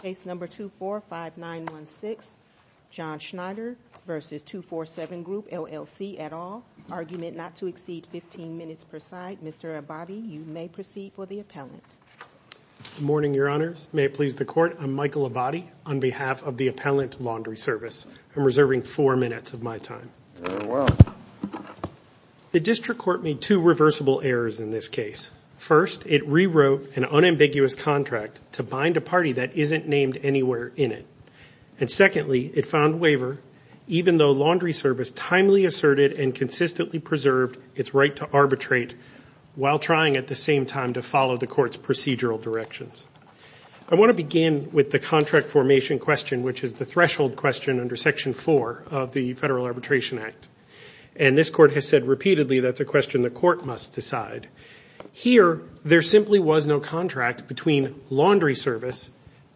Case number 245916 John Schnatter versus 247 Group LLC at all. Argument not to exceed 15 minutes per side. Mr. Abadie, you may proceed for the appellant. Good morning, your honors. May it please the court, I'm Michael Abadie on behalf of the Appellant Laundry Service. I'm reserving four minutes of my time. Very well. The district court made two reversible errors in this case. First, it rewrote an unambiguous contract to find a party that isn't named anywhere in it. And secondly, it found waiver even though Laundry Service timely asserted and consistently preserved its right to arbitrate while trying at the same time to follow the court's procedural directions. I want to begin with the contract formation question, which is the threshold question under section four of the Federal Arbitration Act. And this court has said repeatedly that's a question the court must decide. Here, there simply was no contract between Laundry Service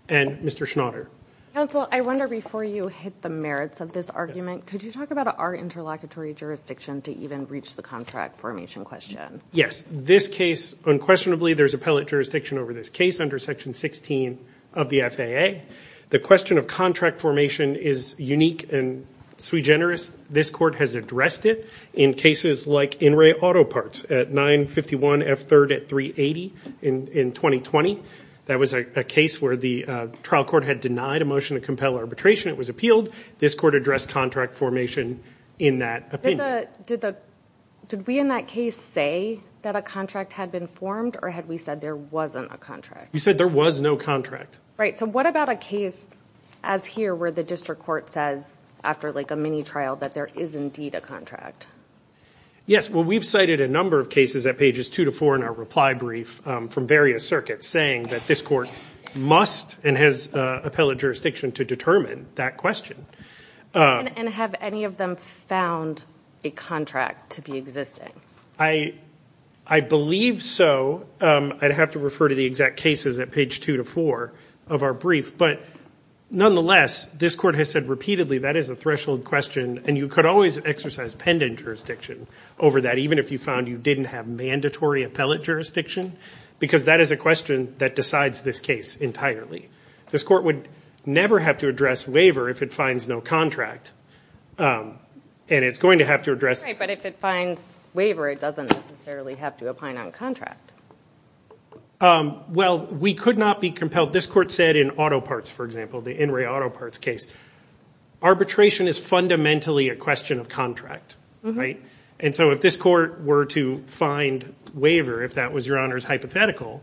and Mr. Schnatter. Counsel, I wonder before you hit the merits of this argument, could you talk about our interlocutory jurisdiction to even reach the contract formation question? Yes. This case, unquestionably, there's appellate jurisdiction over this case under section 16 of the FAA. The question of contract formation is unique and sui generis. This court has addressed it in cases like In Re Auto Parts at 951 F3rd at 380 in 2020. That was a case where the trial court had denied a motion to compel arbitration. It was appealed. This court addressed contract formation in that opinion. Did we in that case say that a contract had been formed or had we said there wasn't a contract? You said there was no contract. Right. So what about a case as here where the district court says after like a mini trial that there is indeed a contract? Yes. Well, we've cited a number of cases at pages two to four in our reply brief from various circuits saying that this court must and has appellate jurisdiction to determine that question. And have any of them found a contract to be existing? I believe so. I'd have to refer to the exact cases at page two to four of our brief. But nonetheless, this court has said repeatedly that is a threshold question. And you could always exercise pendant jurisdiction over that even if you found you didn't have mandatory appellate jurisdiction. Because that is a question that decides this case entirely. This court would never have to address waiver if it finds no contract. And it's going to have to address Right. But if it finds waiver, it doesn't necessarily have to opine on contract. Well, we could not be compelled. This court said in auto parts, for example, the In re auto parts case, arbitration is fundamentally a question of contract. Right. And so if this court were to find waiver, if that was your honor's hypothetical,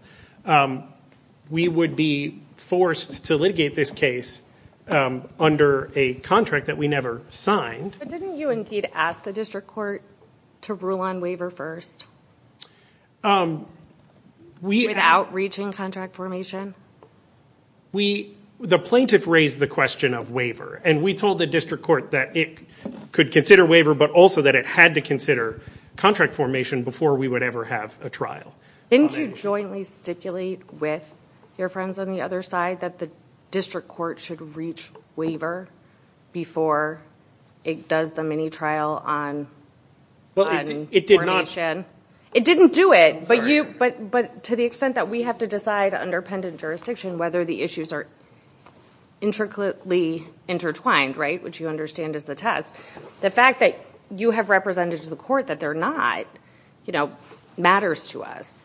we would be forced to litigate this case under a contract that we never signed. But didn't you indeed ask the district court to rule on waiver first? Without reaching contract formation? We, the plaintiff raised the question of waiver. And we told the district court that it could consider waiver, but also that it had to consider contract formation before we would ever have a trial. Didn't you jointly stipulate with your friends on the other side that the district court should reach waiver before it does the mini trial on? Well, it did not. It didn't do it, but to the extent that we have to decide under pendant jurisdiction, whether the issues are intricately intertwined, right, which you understand is the test. The fact that you have represented to the court that they're not, you know, matters to us.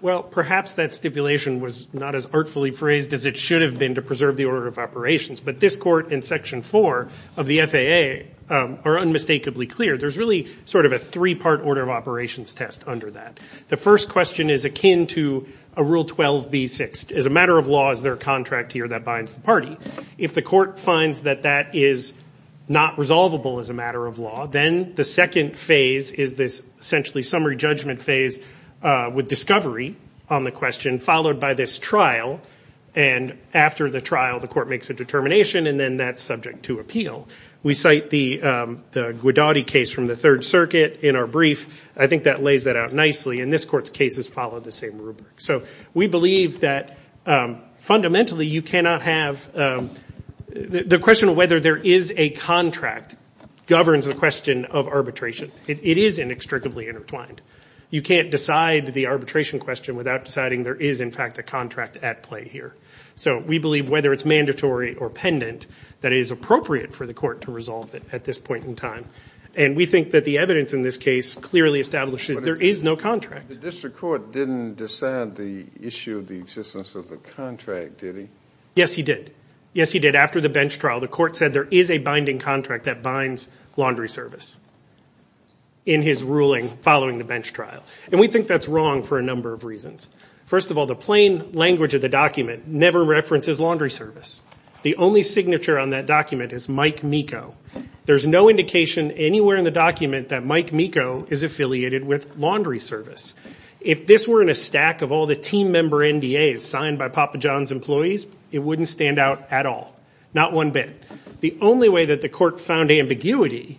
Well, perhaps that stipulation was not as artfully phrased as it should have been to observe the order of operations. But this court and section 4 of the FAA are unmistakably clear. There's really sort of a three-part order of operations test under that. The first question is akin to a Rule 12b6. Is a matter of law, is there a contract here that binds the party? If the court finds that that is not resolvable as a matter of law, then the second phase is this essentially summary judgment phase with discovery on the file, the court makes a determination, and then that's subject to appeal. We cite the Guidotti case from the Third Circuit in our brief. I think that lays that out nicely, and this court's cases follow the same rubric. So we believe that fundamentally you cannot have the question of whether there is a contract governs the question of arbitration. It is inextricably intertwined. You can't decide the arbitration question without deciding there is, in fact, a contract at play here. So we believe whether it's mandatory or pendant, that it is appropriate for the court to resolve it at this point in time. And we think that the evidence in this case clearly establishes there is no contract. The district court didn't decide the issue of the existence of the contract, did he? Yes, he did. Yes, he did. After the bench trial, the court said there is a binding contract that binds laundry service in his ruling following the bench trial. And we think that's wrong for a number of reasons. First of all, the plain language of the document never references laundry service. The only signature on that document is Mike Meeko. There's no indication anywhere in the document that Mike Meeko is affiliated with laundry service. If this were in a stack of all the team member NDAs signed by Papa John's employees, it wouldn't stand out at all, not one bit. The only way that the court found ambiguity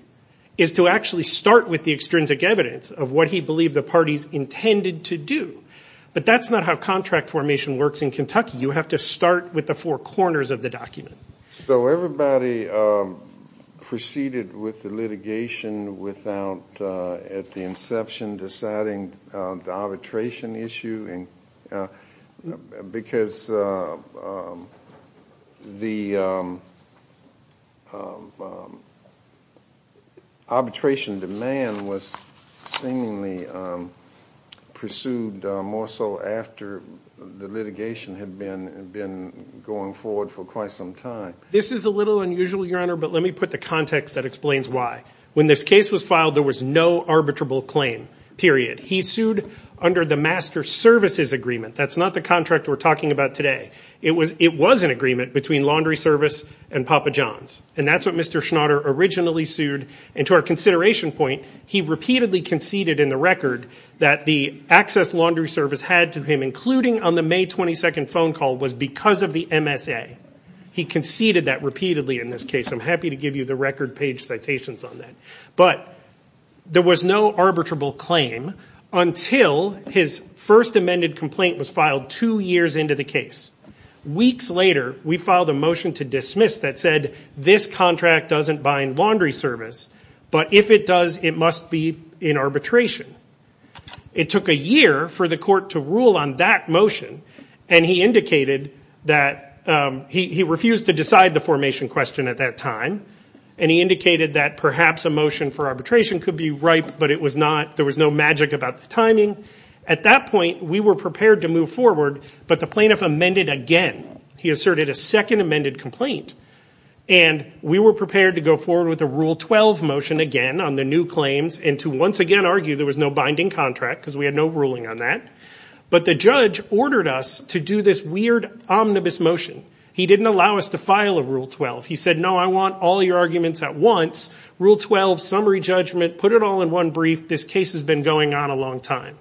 is to actually start with the extrinsic evidence of what he believed the parties intended to do. But that's not how contract formation works in Kentucky. You have to start with the four corners of the document. So everybody proceeded with the litigation without at the inception deciding the arbitration issue? No, because the arbitration demand was seemingly pursued more so after the litigation had been going forward for quite some time. This is a little unusual, Your Honor, but let me put the context that explains why. When this case was filed, there was no arbitrable claim, period. He had a master services agreement. That's not the contract we're talking about today. It was an agreement between laundry service and Papa John's. And that's what Mr. Schnatter originally sued. And to our consideration point, he repeatedly conceded in the record that the access laundry service had to him, including on the May 22nd phone call, was because of the MSA. He conceded that repeatedly in this case. I'm happy to give you the record page citations on that. But there was no arbitrable claim until his first amended complaint was filed two years into the case. Weeks later, we filed a motion to dismiss that said this contract doesn't bind laundry service, but if it does, it must be in arbitration. It took a year for the court to rule on that motion. And he refused to decide the formation question at that time. And he indicated that perhaps a motion for arbitration could be right, but it was not. There was no magic about the timing. At that point, we were prepared to move forward, but the plaintiff amended again. He asserted a second amended complaint. And we were prepared to go forward with a Rule 12 motion again on the new claims and to once again argue there was no binding contract because we had no ruling on that. But the judge ordered us to do this weird omnibus motion. He didn't allow us to file a Rule 12. He put it all in one brief. This case has been going on a long time.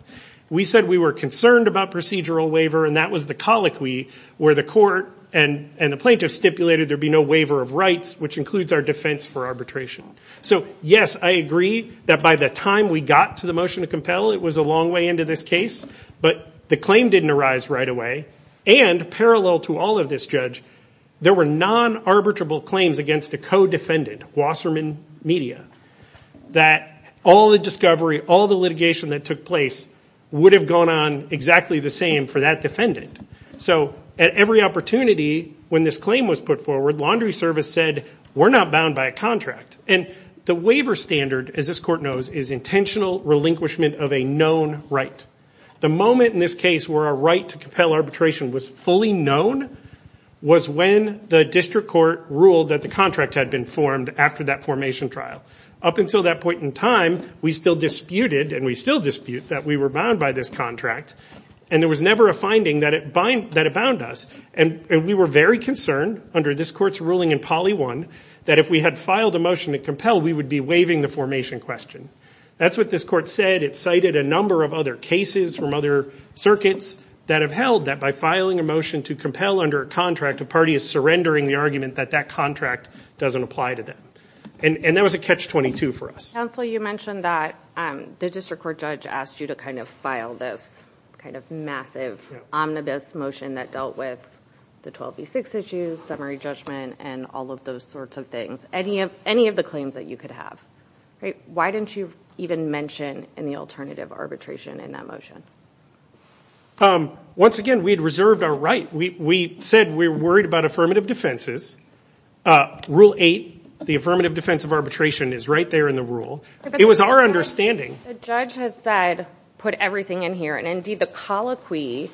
We said we were concerned about procedural waiver, and that was the colloquy where the court and the plaintiff stipulated there be no waiver of rights, which includes our defense for arbitration. So yes, I agree that by the time we got to the motion to compel, it was a long way into this case. But the claim didn't arise right away. And parallel to all of this, Judge, there were non-arbitrable claims against a co-defendant, Wasserman Media, that all the discovery, all the litigation that took place would have gone on exactly the same for that defendant. So at every opportunity when this claim was put forward, Laundry Service said we're not bound by a contract. And the waiver standard, as this court knows, is intentional relinquishment of a known right. The moment in this case where our right to compel arbitration was fully known was when the district court ruled that the contract had been formed after that formation trial. Up until that point in time, we still disputed, and we still dispute, that we were bound by this contract. And there was never a finding that it bound us. And we were very concerned, under this court's ruling in Poly 1, that if we had filed a motion to compel, we would be waiving the formation question. That's what this court said. It cited a number of other cases from other circuits that have held that by filing a motion to compel under a contract, a party is surrendering the argument that that contract doesn't apply to them. And that was a catch-22 for us. Counsel, you mentioned that the district court judge asked you to kind of file this kind of massive omnibus motion that dealt with the 12v6 issues, summary judgment, and all of those sorts of things. Any of the claims that you could have. Why didn't you even mention any alternative arbitration in that motion? Once again, we had reserved our right. We said we worried about affirmative defenses. Rule 8, the affirmative defense of arbitration, is right there in the rule. It was our understanding. The judge has said, put everything in here. And indeed, the colloquy,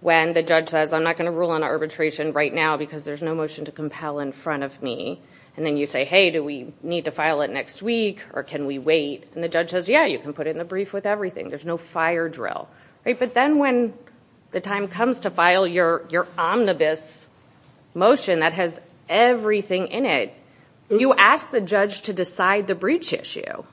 when the judge says, I'm not going to rule on arbitration right now because there's no motion to compel in front of me. And then you say, hey, do we need to file it next week? Or can we wait? And the judge says, yeah, you can put it in the brief with everything. There's no fire drill. But then when the time comes to file your omnibus motion that has everything in it, you ask the judge to decide the breach issue.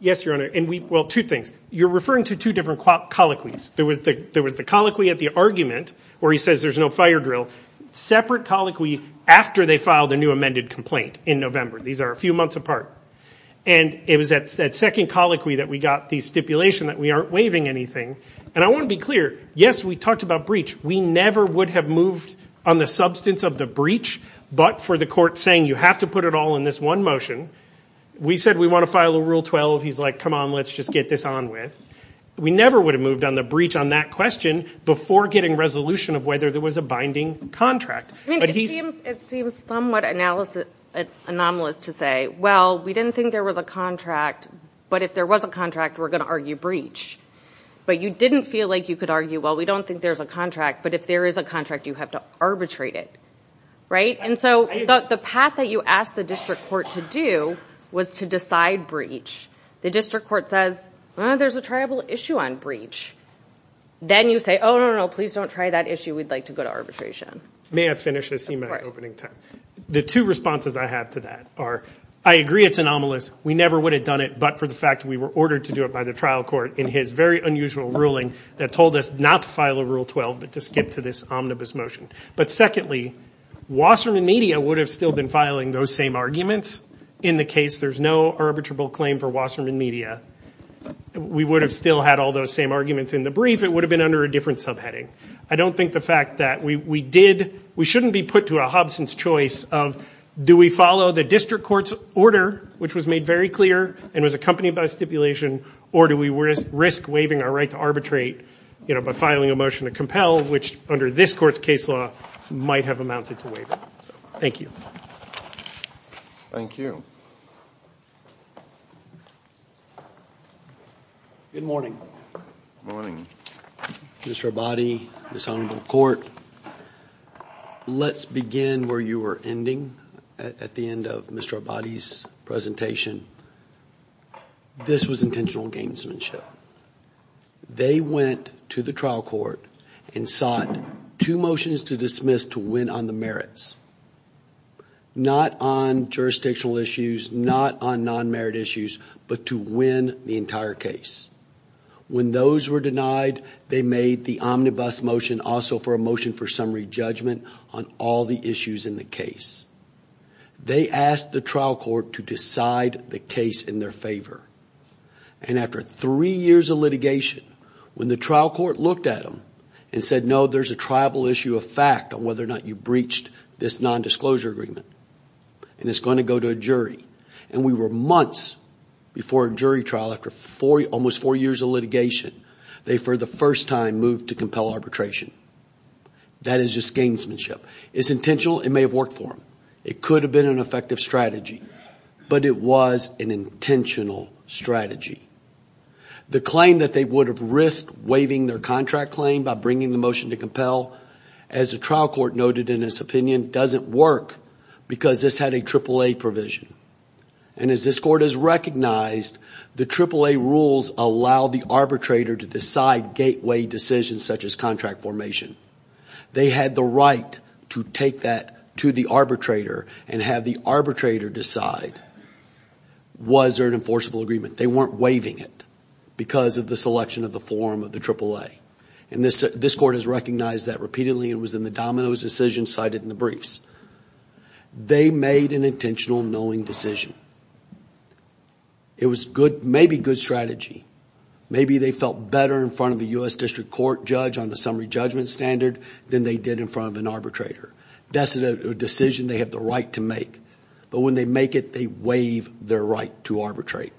Yes, Your Honor. And we, well, two things. You're referring to two different colloquies. There was the colloquy at the argument where he says there's no fire drill. Separate colloquy after they filed a new amended complaint in November. These are a few months apart. And it was that second colloquy that we got the stipulation that we aren't waiving anything. And I want to be clear. Yes, we talked about breach. We never would have moved on the substance of the breach. But for the court saying you have to put it all in this one motion, we said we want to file a Rule 12. He's like, come on, let's just get this on with. We never would have moved on the breach on that question before getting resolution of whether there was a binding contract. I mean, it seems somewhat anomalous to say, well, we didn't think there was a contract. But if there was a contract, we're going to argue breach. But you didn't feel like you could argue, well, we don't think there's a contract. But if there is a contract, you have to arbitrate it. Right? And so the path that you asked the district court to do was to decide breach. The district court says, well, there's a triable issue on breach. Then you say, oh, no, no, no, please don't try that issue. We'd like to go to arbitration. May I finish? I see my opening time. The two responses I have to that are, I agree it's anomalous. We never would have done it but for the fact we were ordered to do it by the trial court in his very unusual ruling that told us not to file a Rule 12 but to skip to this omnibus motion. But secondly, Wasserman Media would have still been filing those same arguments. In the case, there's no arbitrable claim for Wasserman Media. We would have still had all those same arguments in the brief. It would have been under a different subheading. I don't think the fact that we did, we shouldn't be put to a Hobson's choice of do we follow the district court's order, which was made very clear and was accompanied by stipulation, or do we risk waiving our right to arbitrate by filing a motion to compel, which under this court's case law might have amounted to waiving. Thank you. Thank you. Good morning. Morning. Mr. Abadi, Ms. Honorable Court, let's begin where you were ending at the end of Mr. Abadi's presentation. This was intentional gamesmanship. They went to the trial court and sought two motions to dismiss to win on the merits. Not on jurisdictional issues, not on non-merit issues, but to win the entire case. When those were denied, they made the omnibus motion also for a motion for summary judgment on all the issues in the case. They asked the trial court to decide the case in their favor. And after three years of litigation, when the trial court looked at them and said, no, there's a tribal issue of fact on whether or not you breached this nondisclosure agreement, and it's going to go to a jury, and we were months before a jury trial, after almost four years of litigation, they for the first time moved to compel arbitration. That is just gamesmanship. It's intentional. It may have worked for them. It could have been an effective strategy, but it was an intentional strategy. The claim that they would have risked waiving their contract claim by bringing the motion to compel, as the trial court noted in its opinion, doesn't work because this had a AAA provision. And as this court has recognized, the AAA rules allow the arbitrator to decide gateway decisions such as contract formation. They had the right to take that to the arbitrator and have the arbitrator decide, was there an enforceable agreement? They weren't waiving it because of the selection of the form of the AAA. This court has recognized that repeatedly and was in the dominoes decision cited in the briefs. They made an intentional knowing decision. It was maybe good strategy. Maybe they felt better in front of the U.S. District Court judge on the summary judgment standard than they did in front of an arbitrator. That's a decision they have the right to make, but when they make it, they waive their right to arbitrate.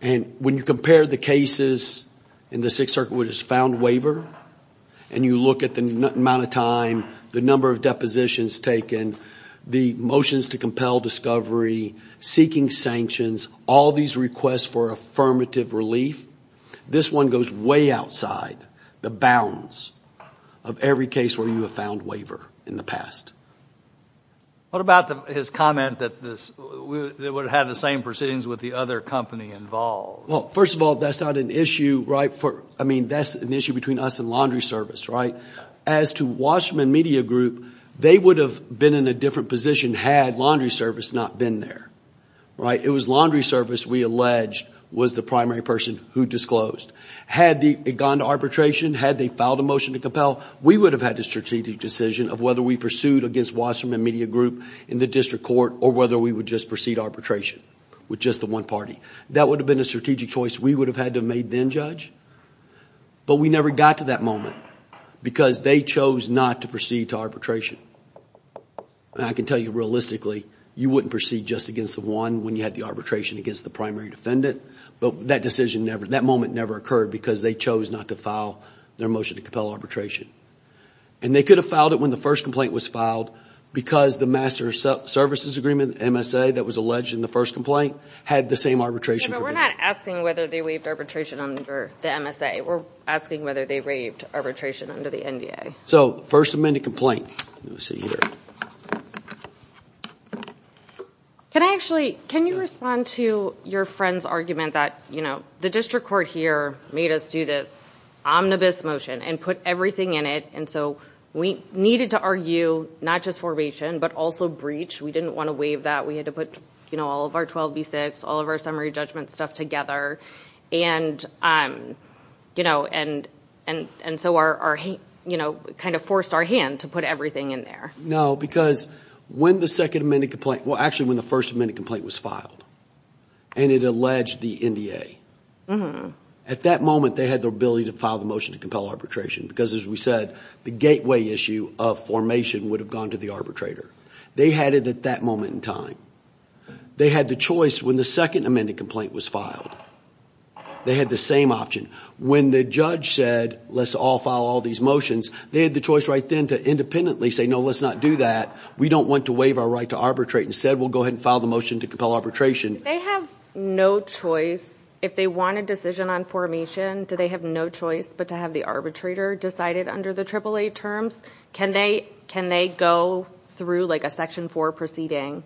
And when you compare the cases in the Sixth Circuit where it's found waiver and you look at the amount of time, the number of depositions taken, the motions to compel discovery, seeking sanctions, all these requests for affirmative relief, this one goes way outside the bounds of every case where you have found waiver in the past. What about his comment that it would have the same proceedings with the other company involved? Well, first of all, that's not an issue, right? I mean, that's an issue between us and laundry service, right? As to Washman Media Group, they would have been in a different position had laundry service not been there, right? It was laundry service we alleged was the primary person who disclosed. Had it gone to arbitration, had they filed a motion to compel, we would have had a strategic decision of whether we pursued against Washman Media Group in the district court or whether we would just proceed arbitration with just the one party. That would have been a strategic choice we would have had to make then, Judge, but we never got to that moment because they chose not to proceed to arbitration. I can tell you realistically, you wouldn't proceed just against the one when you had the arbitration against the primary defendant, but that decision never, that moment never occurred because they chose not to file their motion to compel arbitration. And they could have filed it when the first complaint was filed because the master services agreement, MSA, that was alleged in the first complaint had the same arbitration. We're not asking whether they waived arbitration under the MSA. We're asking whether they waived arbitration under the NDA. So first amended complaint. Let me see here. Can I actually, can you respond to your friend's argument that, you know, the district court here made us do this omnibus motion and put everything in it. And so we needed to argue not just formation, but also breach. We didn't want to waive that. We had to put, you know, all of our 12B6, all of our summary judgment stuff together. And, um, you know, and, and, and so our, our, you know, kind of forced our hand to put everything in there. No, because when the second amended complaint, well, actually when the first amended complaint was filed and it alleged the NDA, at that moment, they had the ability to file the motion to compel arbitration because as we said, the gateway issue of formation would have gone to the arbitrator. They had it at that moment in time. They had the choice when the second amended complaint was filed, they had the same option. When the judge said, let's all file all these motions, they had the choice right then to independently say, no, let's not do that. We don't want to waive our right to arbitrate. Instead, we'll go ahead and file the motion to compel arbitration. They have no choice. If they want a decision on formation, do they have no choice but to have the arbitrator decided under the AAA terms? Can they, can they go through like a section four proceeding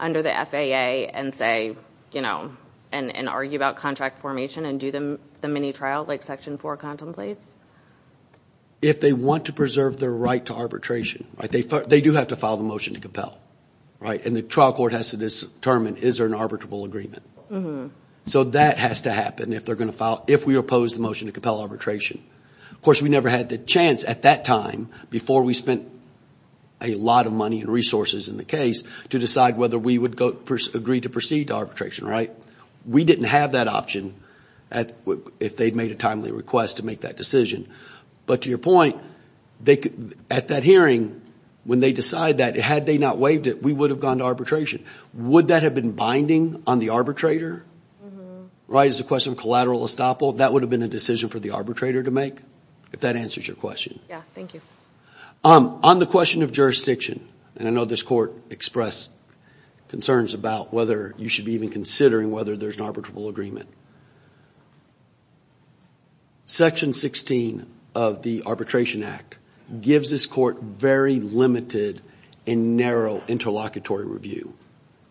under the FAA and say, you know, and, and argue about contract formation and do the mini trial, like section four contemplates? If they want to preserve their right to arbitration, right, they do have to file the motion to compel, right? And the trial court has to determine, is there an arbitrable agreement? So that has to happen if they're going to file, if we oppose the motion to compel arbitration. Of course, we never had the chance at that time before we spent a lot of money and resources in the case to decide whether we would go, agree to proceed to arbitration, right? We didn't have that option at, if they'd made a timely request to make that decision. But to your point, they could, at that hearing, when they decide that, had they not waived it, we would have gone to arbitration. Would that have been binding on the arbitrator? Right. It's a question of collateral estoppel. That would have been a decision for the arbitrator to make, if that answers your question. Yeah. Thank you. On the question of jurisdiction, and I know this court expressed concerns about whether you should even considering whether there's an arbitrable agreement. Section 16 of the Arbitration Act gives this court very limited and narrow interlocutory review,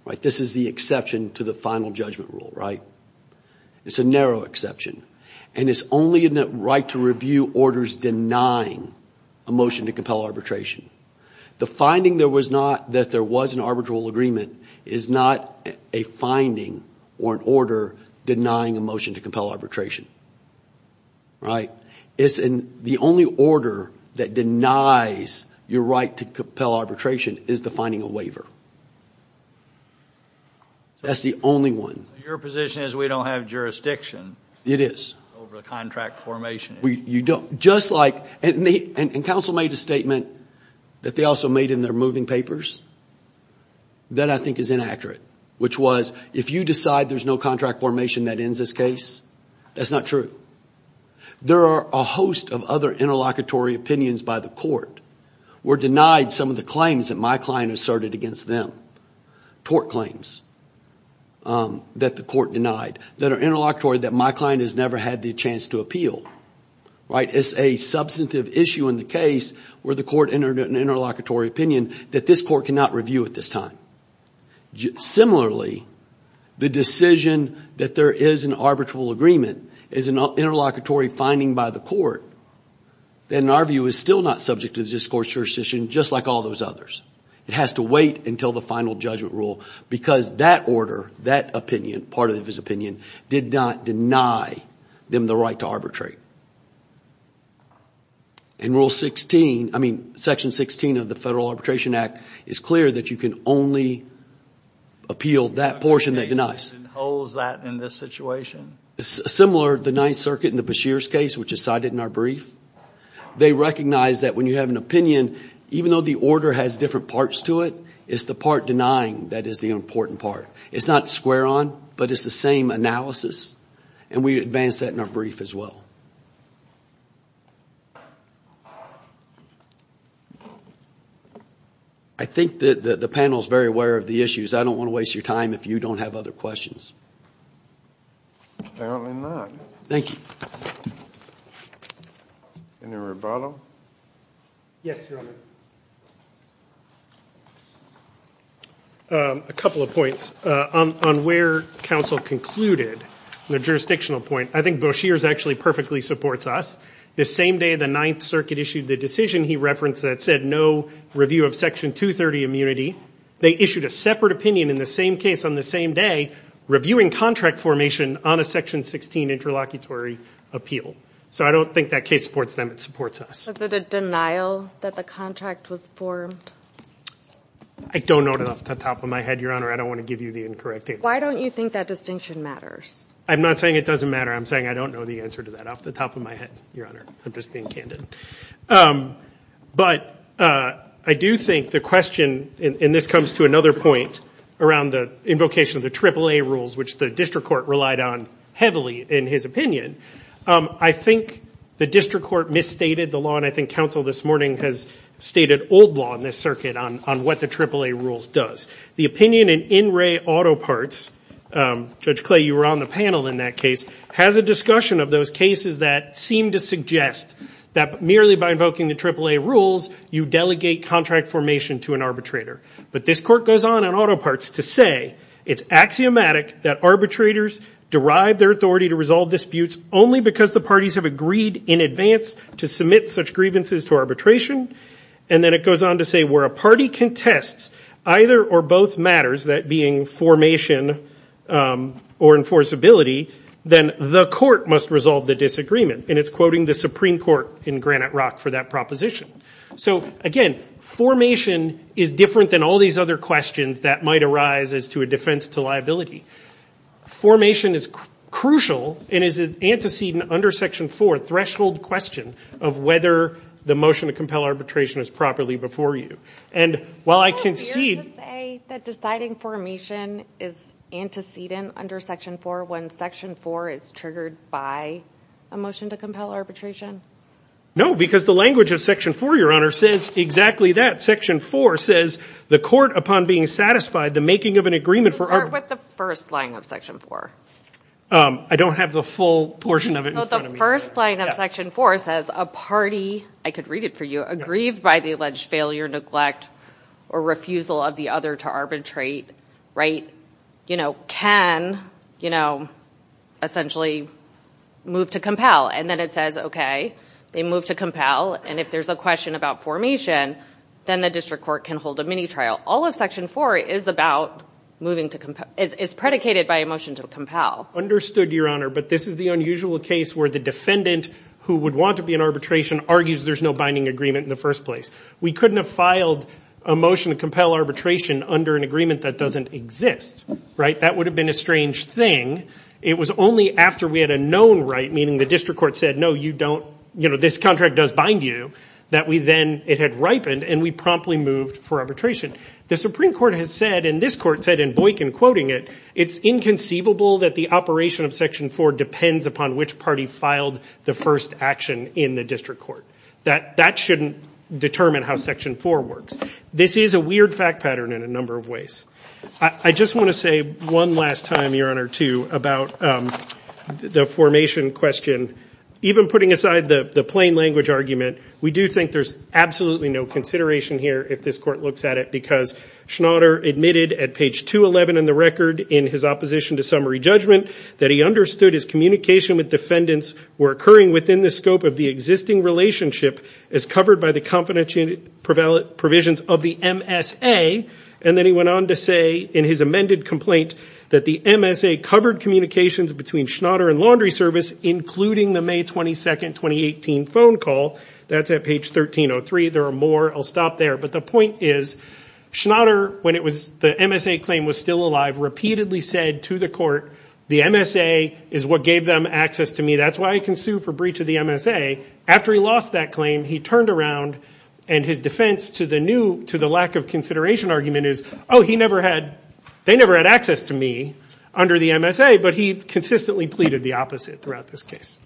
right? This is the exception to the final judgment rule, right? It's a narrow exception. And it's only in that right to review orders denying a motion to compel arbitration. The finding there was not, that or an order denying a motion to compel arbitration, right? It's in the only order that denies your right to compel arbitration is defining a waiver. That's the only one. Your position is we don't have jurisdiction. It is. Over the contract formation. Just like, and counsel made a statement that they also made in their moving papers, that I think is inaccurate, which was, if you decide there's no contract formation that ends this case, that's not true. There are a host of other interlocutory opinions by the court were denied some of the claims that my client asserted against them. Tort claims that the court denied that are interlocutory that my client has never had the chance to appeal, right? It's a substantive issue in the case where the court entered an interlocutory opinion that this court cannot review at this time. Similarly, the decision that there is an arbitral agreement is an interlocutory finding by the court that in our view is still not subject to this court's jurisdiction, just like all those others. It has to wait until the final judgment rule because that order, that opinion, part of his opinion, did not deny them the right to arbitrate. In Rule 16, I mean Section 16 of the Federal Arbitration Act, it's clear that you can only appeal that portion that denies. It holds that in this situation? It's similar to the Ninth Circuit in the Bashir's case, which is cited in our brief. They recognize that when you have an opinion, even though the order has different parts to it, it's the part denying that is the important part. It's not square on, but it's the same analysis, and we advance that in our brief as well. I think that the panel is very aware of the issues. I don't want to waste your time if you don't have other questions. Apparently not. Thank you. Any rebuttal? Yes, Your Honor. A couple of points. On where counsel concluded, the jurisdictional point, I think Bashir's actually perfectly supports us. The same day the Ninth Circuit issued the decision he referenced that said no review of Section 230 immunity, they issued a separate opinion in the same case on the same day, reviewing contract formation on a Section 16 interlocutory appeal. So I don't think that case supports them, it supports us. Is it a denial that the contract was formed? I don't know off the top of my head, Your Honor. I don't want to give you the incorrect answer. Why don't you think that distinction matters? I'm not saying it doesn't matter. I'm saying I don't know the answer to that off the top of my head, Your Honor. I'm just being candid. But I do think the question, and this comes to another point around the invocation of the AAA rules, which the district court relied on heavily in his opinion, I think the district court misstated the law, and I think counsel this morning has stated old law in this circuit on what the AAA rules does. The opinion in In Re Auto Parts, Judge Clay, you were on the panel in that case, has a discussion of those cases that seem to suggest that merely by invoking the AAA rules, you delegate contract formation to an arbitrator. But this court goes on in Auto Parts to say it's axiomatic that arbitrators derive their authority to resolve disputes only because the parties have agreed in advance to submit such grievances to arbitration. And then it goes on to say where a party contests either or both matters, that being formation or enforceability, then the court must resolve the disagreement. And it's quoting the Supreme Court in Granite Rock for that proposition. So again, formation is different than all these other questions that might arise as to a defense to liability. Formation is crucial and is an antecedent under Section 4, threshold question, of whether the motion to compel arbitration is properly before you. And while I concede... Is it fair to say that deciding formation is antecedent under Section 4 when Section 4 is triggered by a motion to compel arbitration? No, because the language of Section 4, Your Honor, says exactly that. Section 4 says the court, upon being satisfied, the making of an agreement for... Start with the first line of Section 4. I don't have the full portion of it in front of me. The first line of Section 4 says a party, I could read it for you, aggrieved by the alleged failure, neglect, or refusal of the other to arbitrate, right, you know, can, you know, essentially move to compel. And then it says, okay, they move to compel. And if there's a question about formation, then the district court can hold a mini-trial. All of Section 4 is about moving to compel... Is predicated by a motion to compel. Understood, Your Honor, but this is the unusual case where the defendant who would want to be in arbitration argues there's no binding agreement in the first place. We couldn't have filed a motion to compel arbitration under an agreement that doesn't exist, right? That would have been a strange thing. It was only after we had a known right, meaning the district court said, no, you don't, you know, this contract does bind you, that we then, it had ripened, and we promptly moved for arbitration. The Supreme Court has said, and this court said in Boykin quoting it, it's inconceivable that the operation of Section 4 depends upon which party filed the first action in the district court. That shouldn't determine how Section 4 works. This is a weird fact pattern in a number of ways. I just want to say one last time, Your Honor, too, about the formation question. Even putting aside the plain language argument, we do think there's absolutely no consideration here, if this court looks at it, because Schnatter admitted at page 211 in the record in his opposition to summary judgment that he understood his communication with defendants were occurring within the scope of the existing relationship as covered by the confidentiality provisions of the MSA, and then he went on to say in his amended complaint that the MSA covered communications between Schnatter and Laundry including the May 22, 2018 phone call. That's at page 1303. There are more. I'll stop there, but the point is Schnatter, when the MSA claim was still alive, repeatedly said to the court, the MSA is what gave them access to me. That's why I can sue for breach of the MSA. After he lost that claim, he turned around and his defense to the lack of consideration argument is, oh, they never had access to me under the MSA, but he consistently pleaded the opposite throughout this case.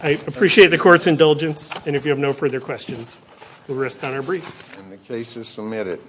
I appreciate the court's indulgence, and if you have no further questions, we'll rest on our briefs. The case is submitted.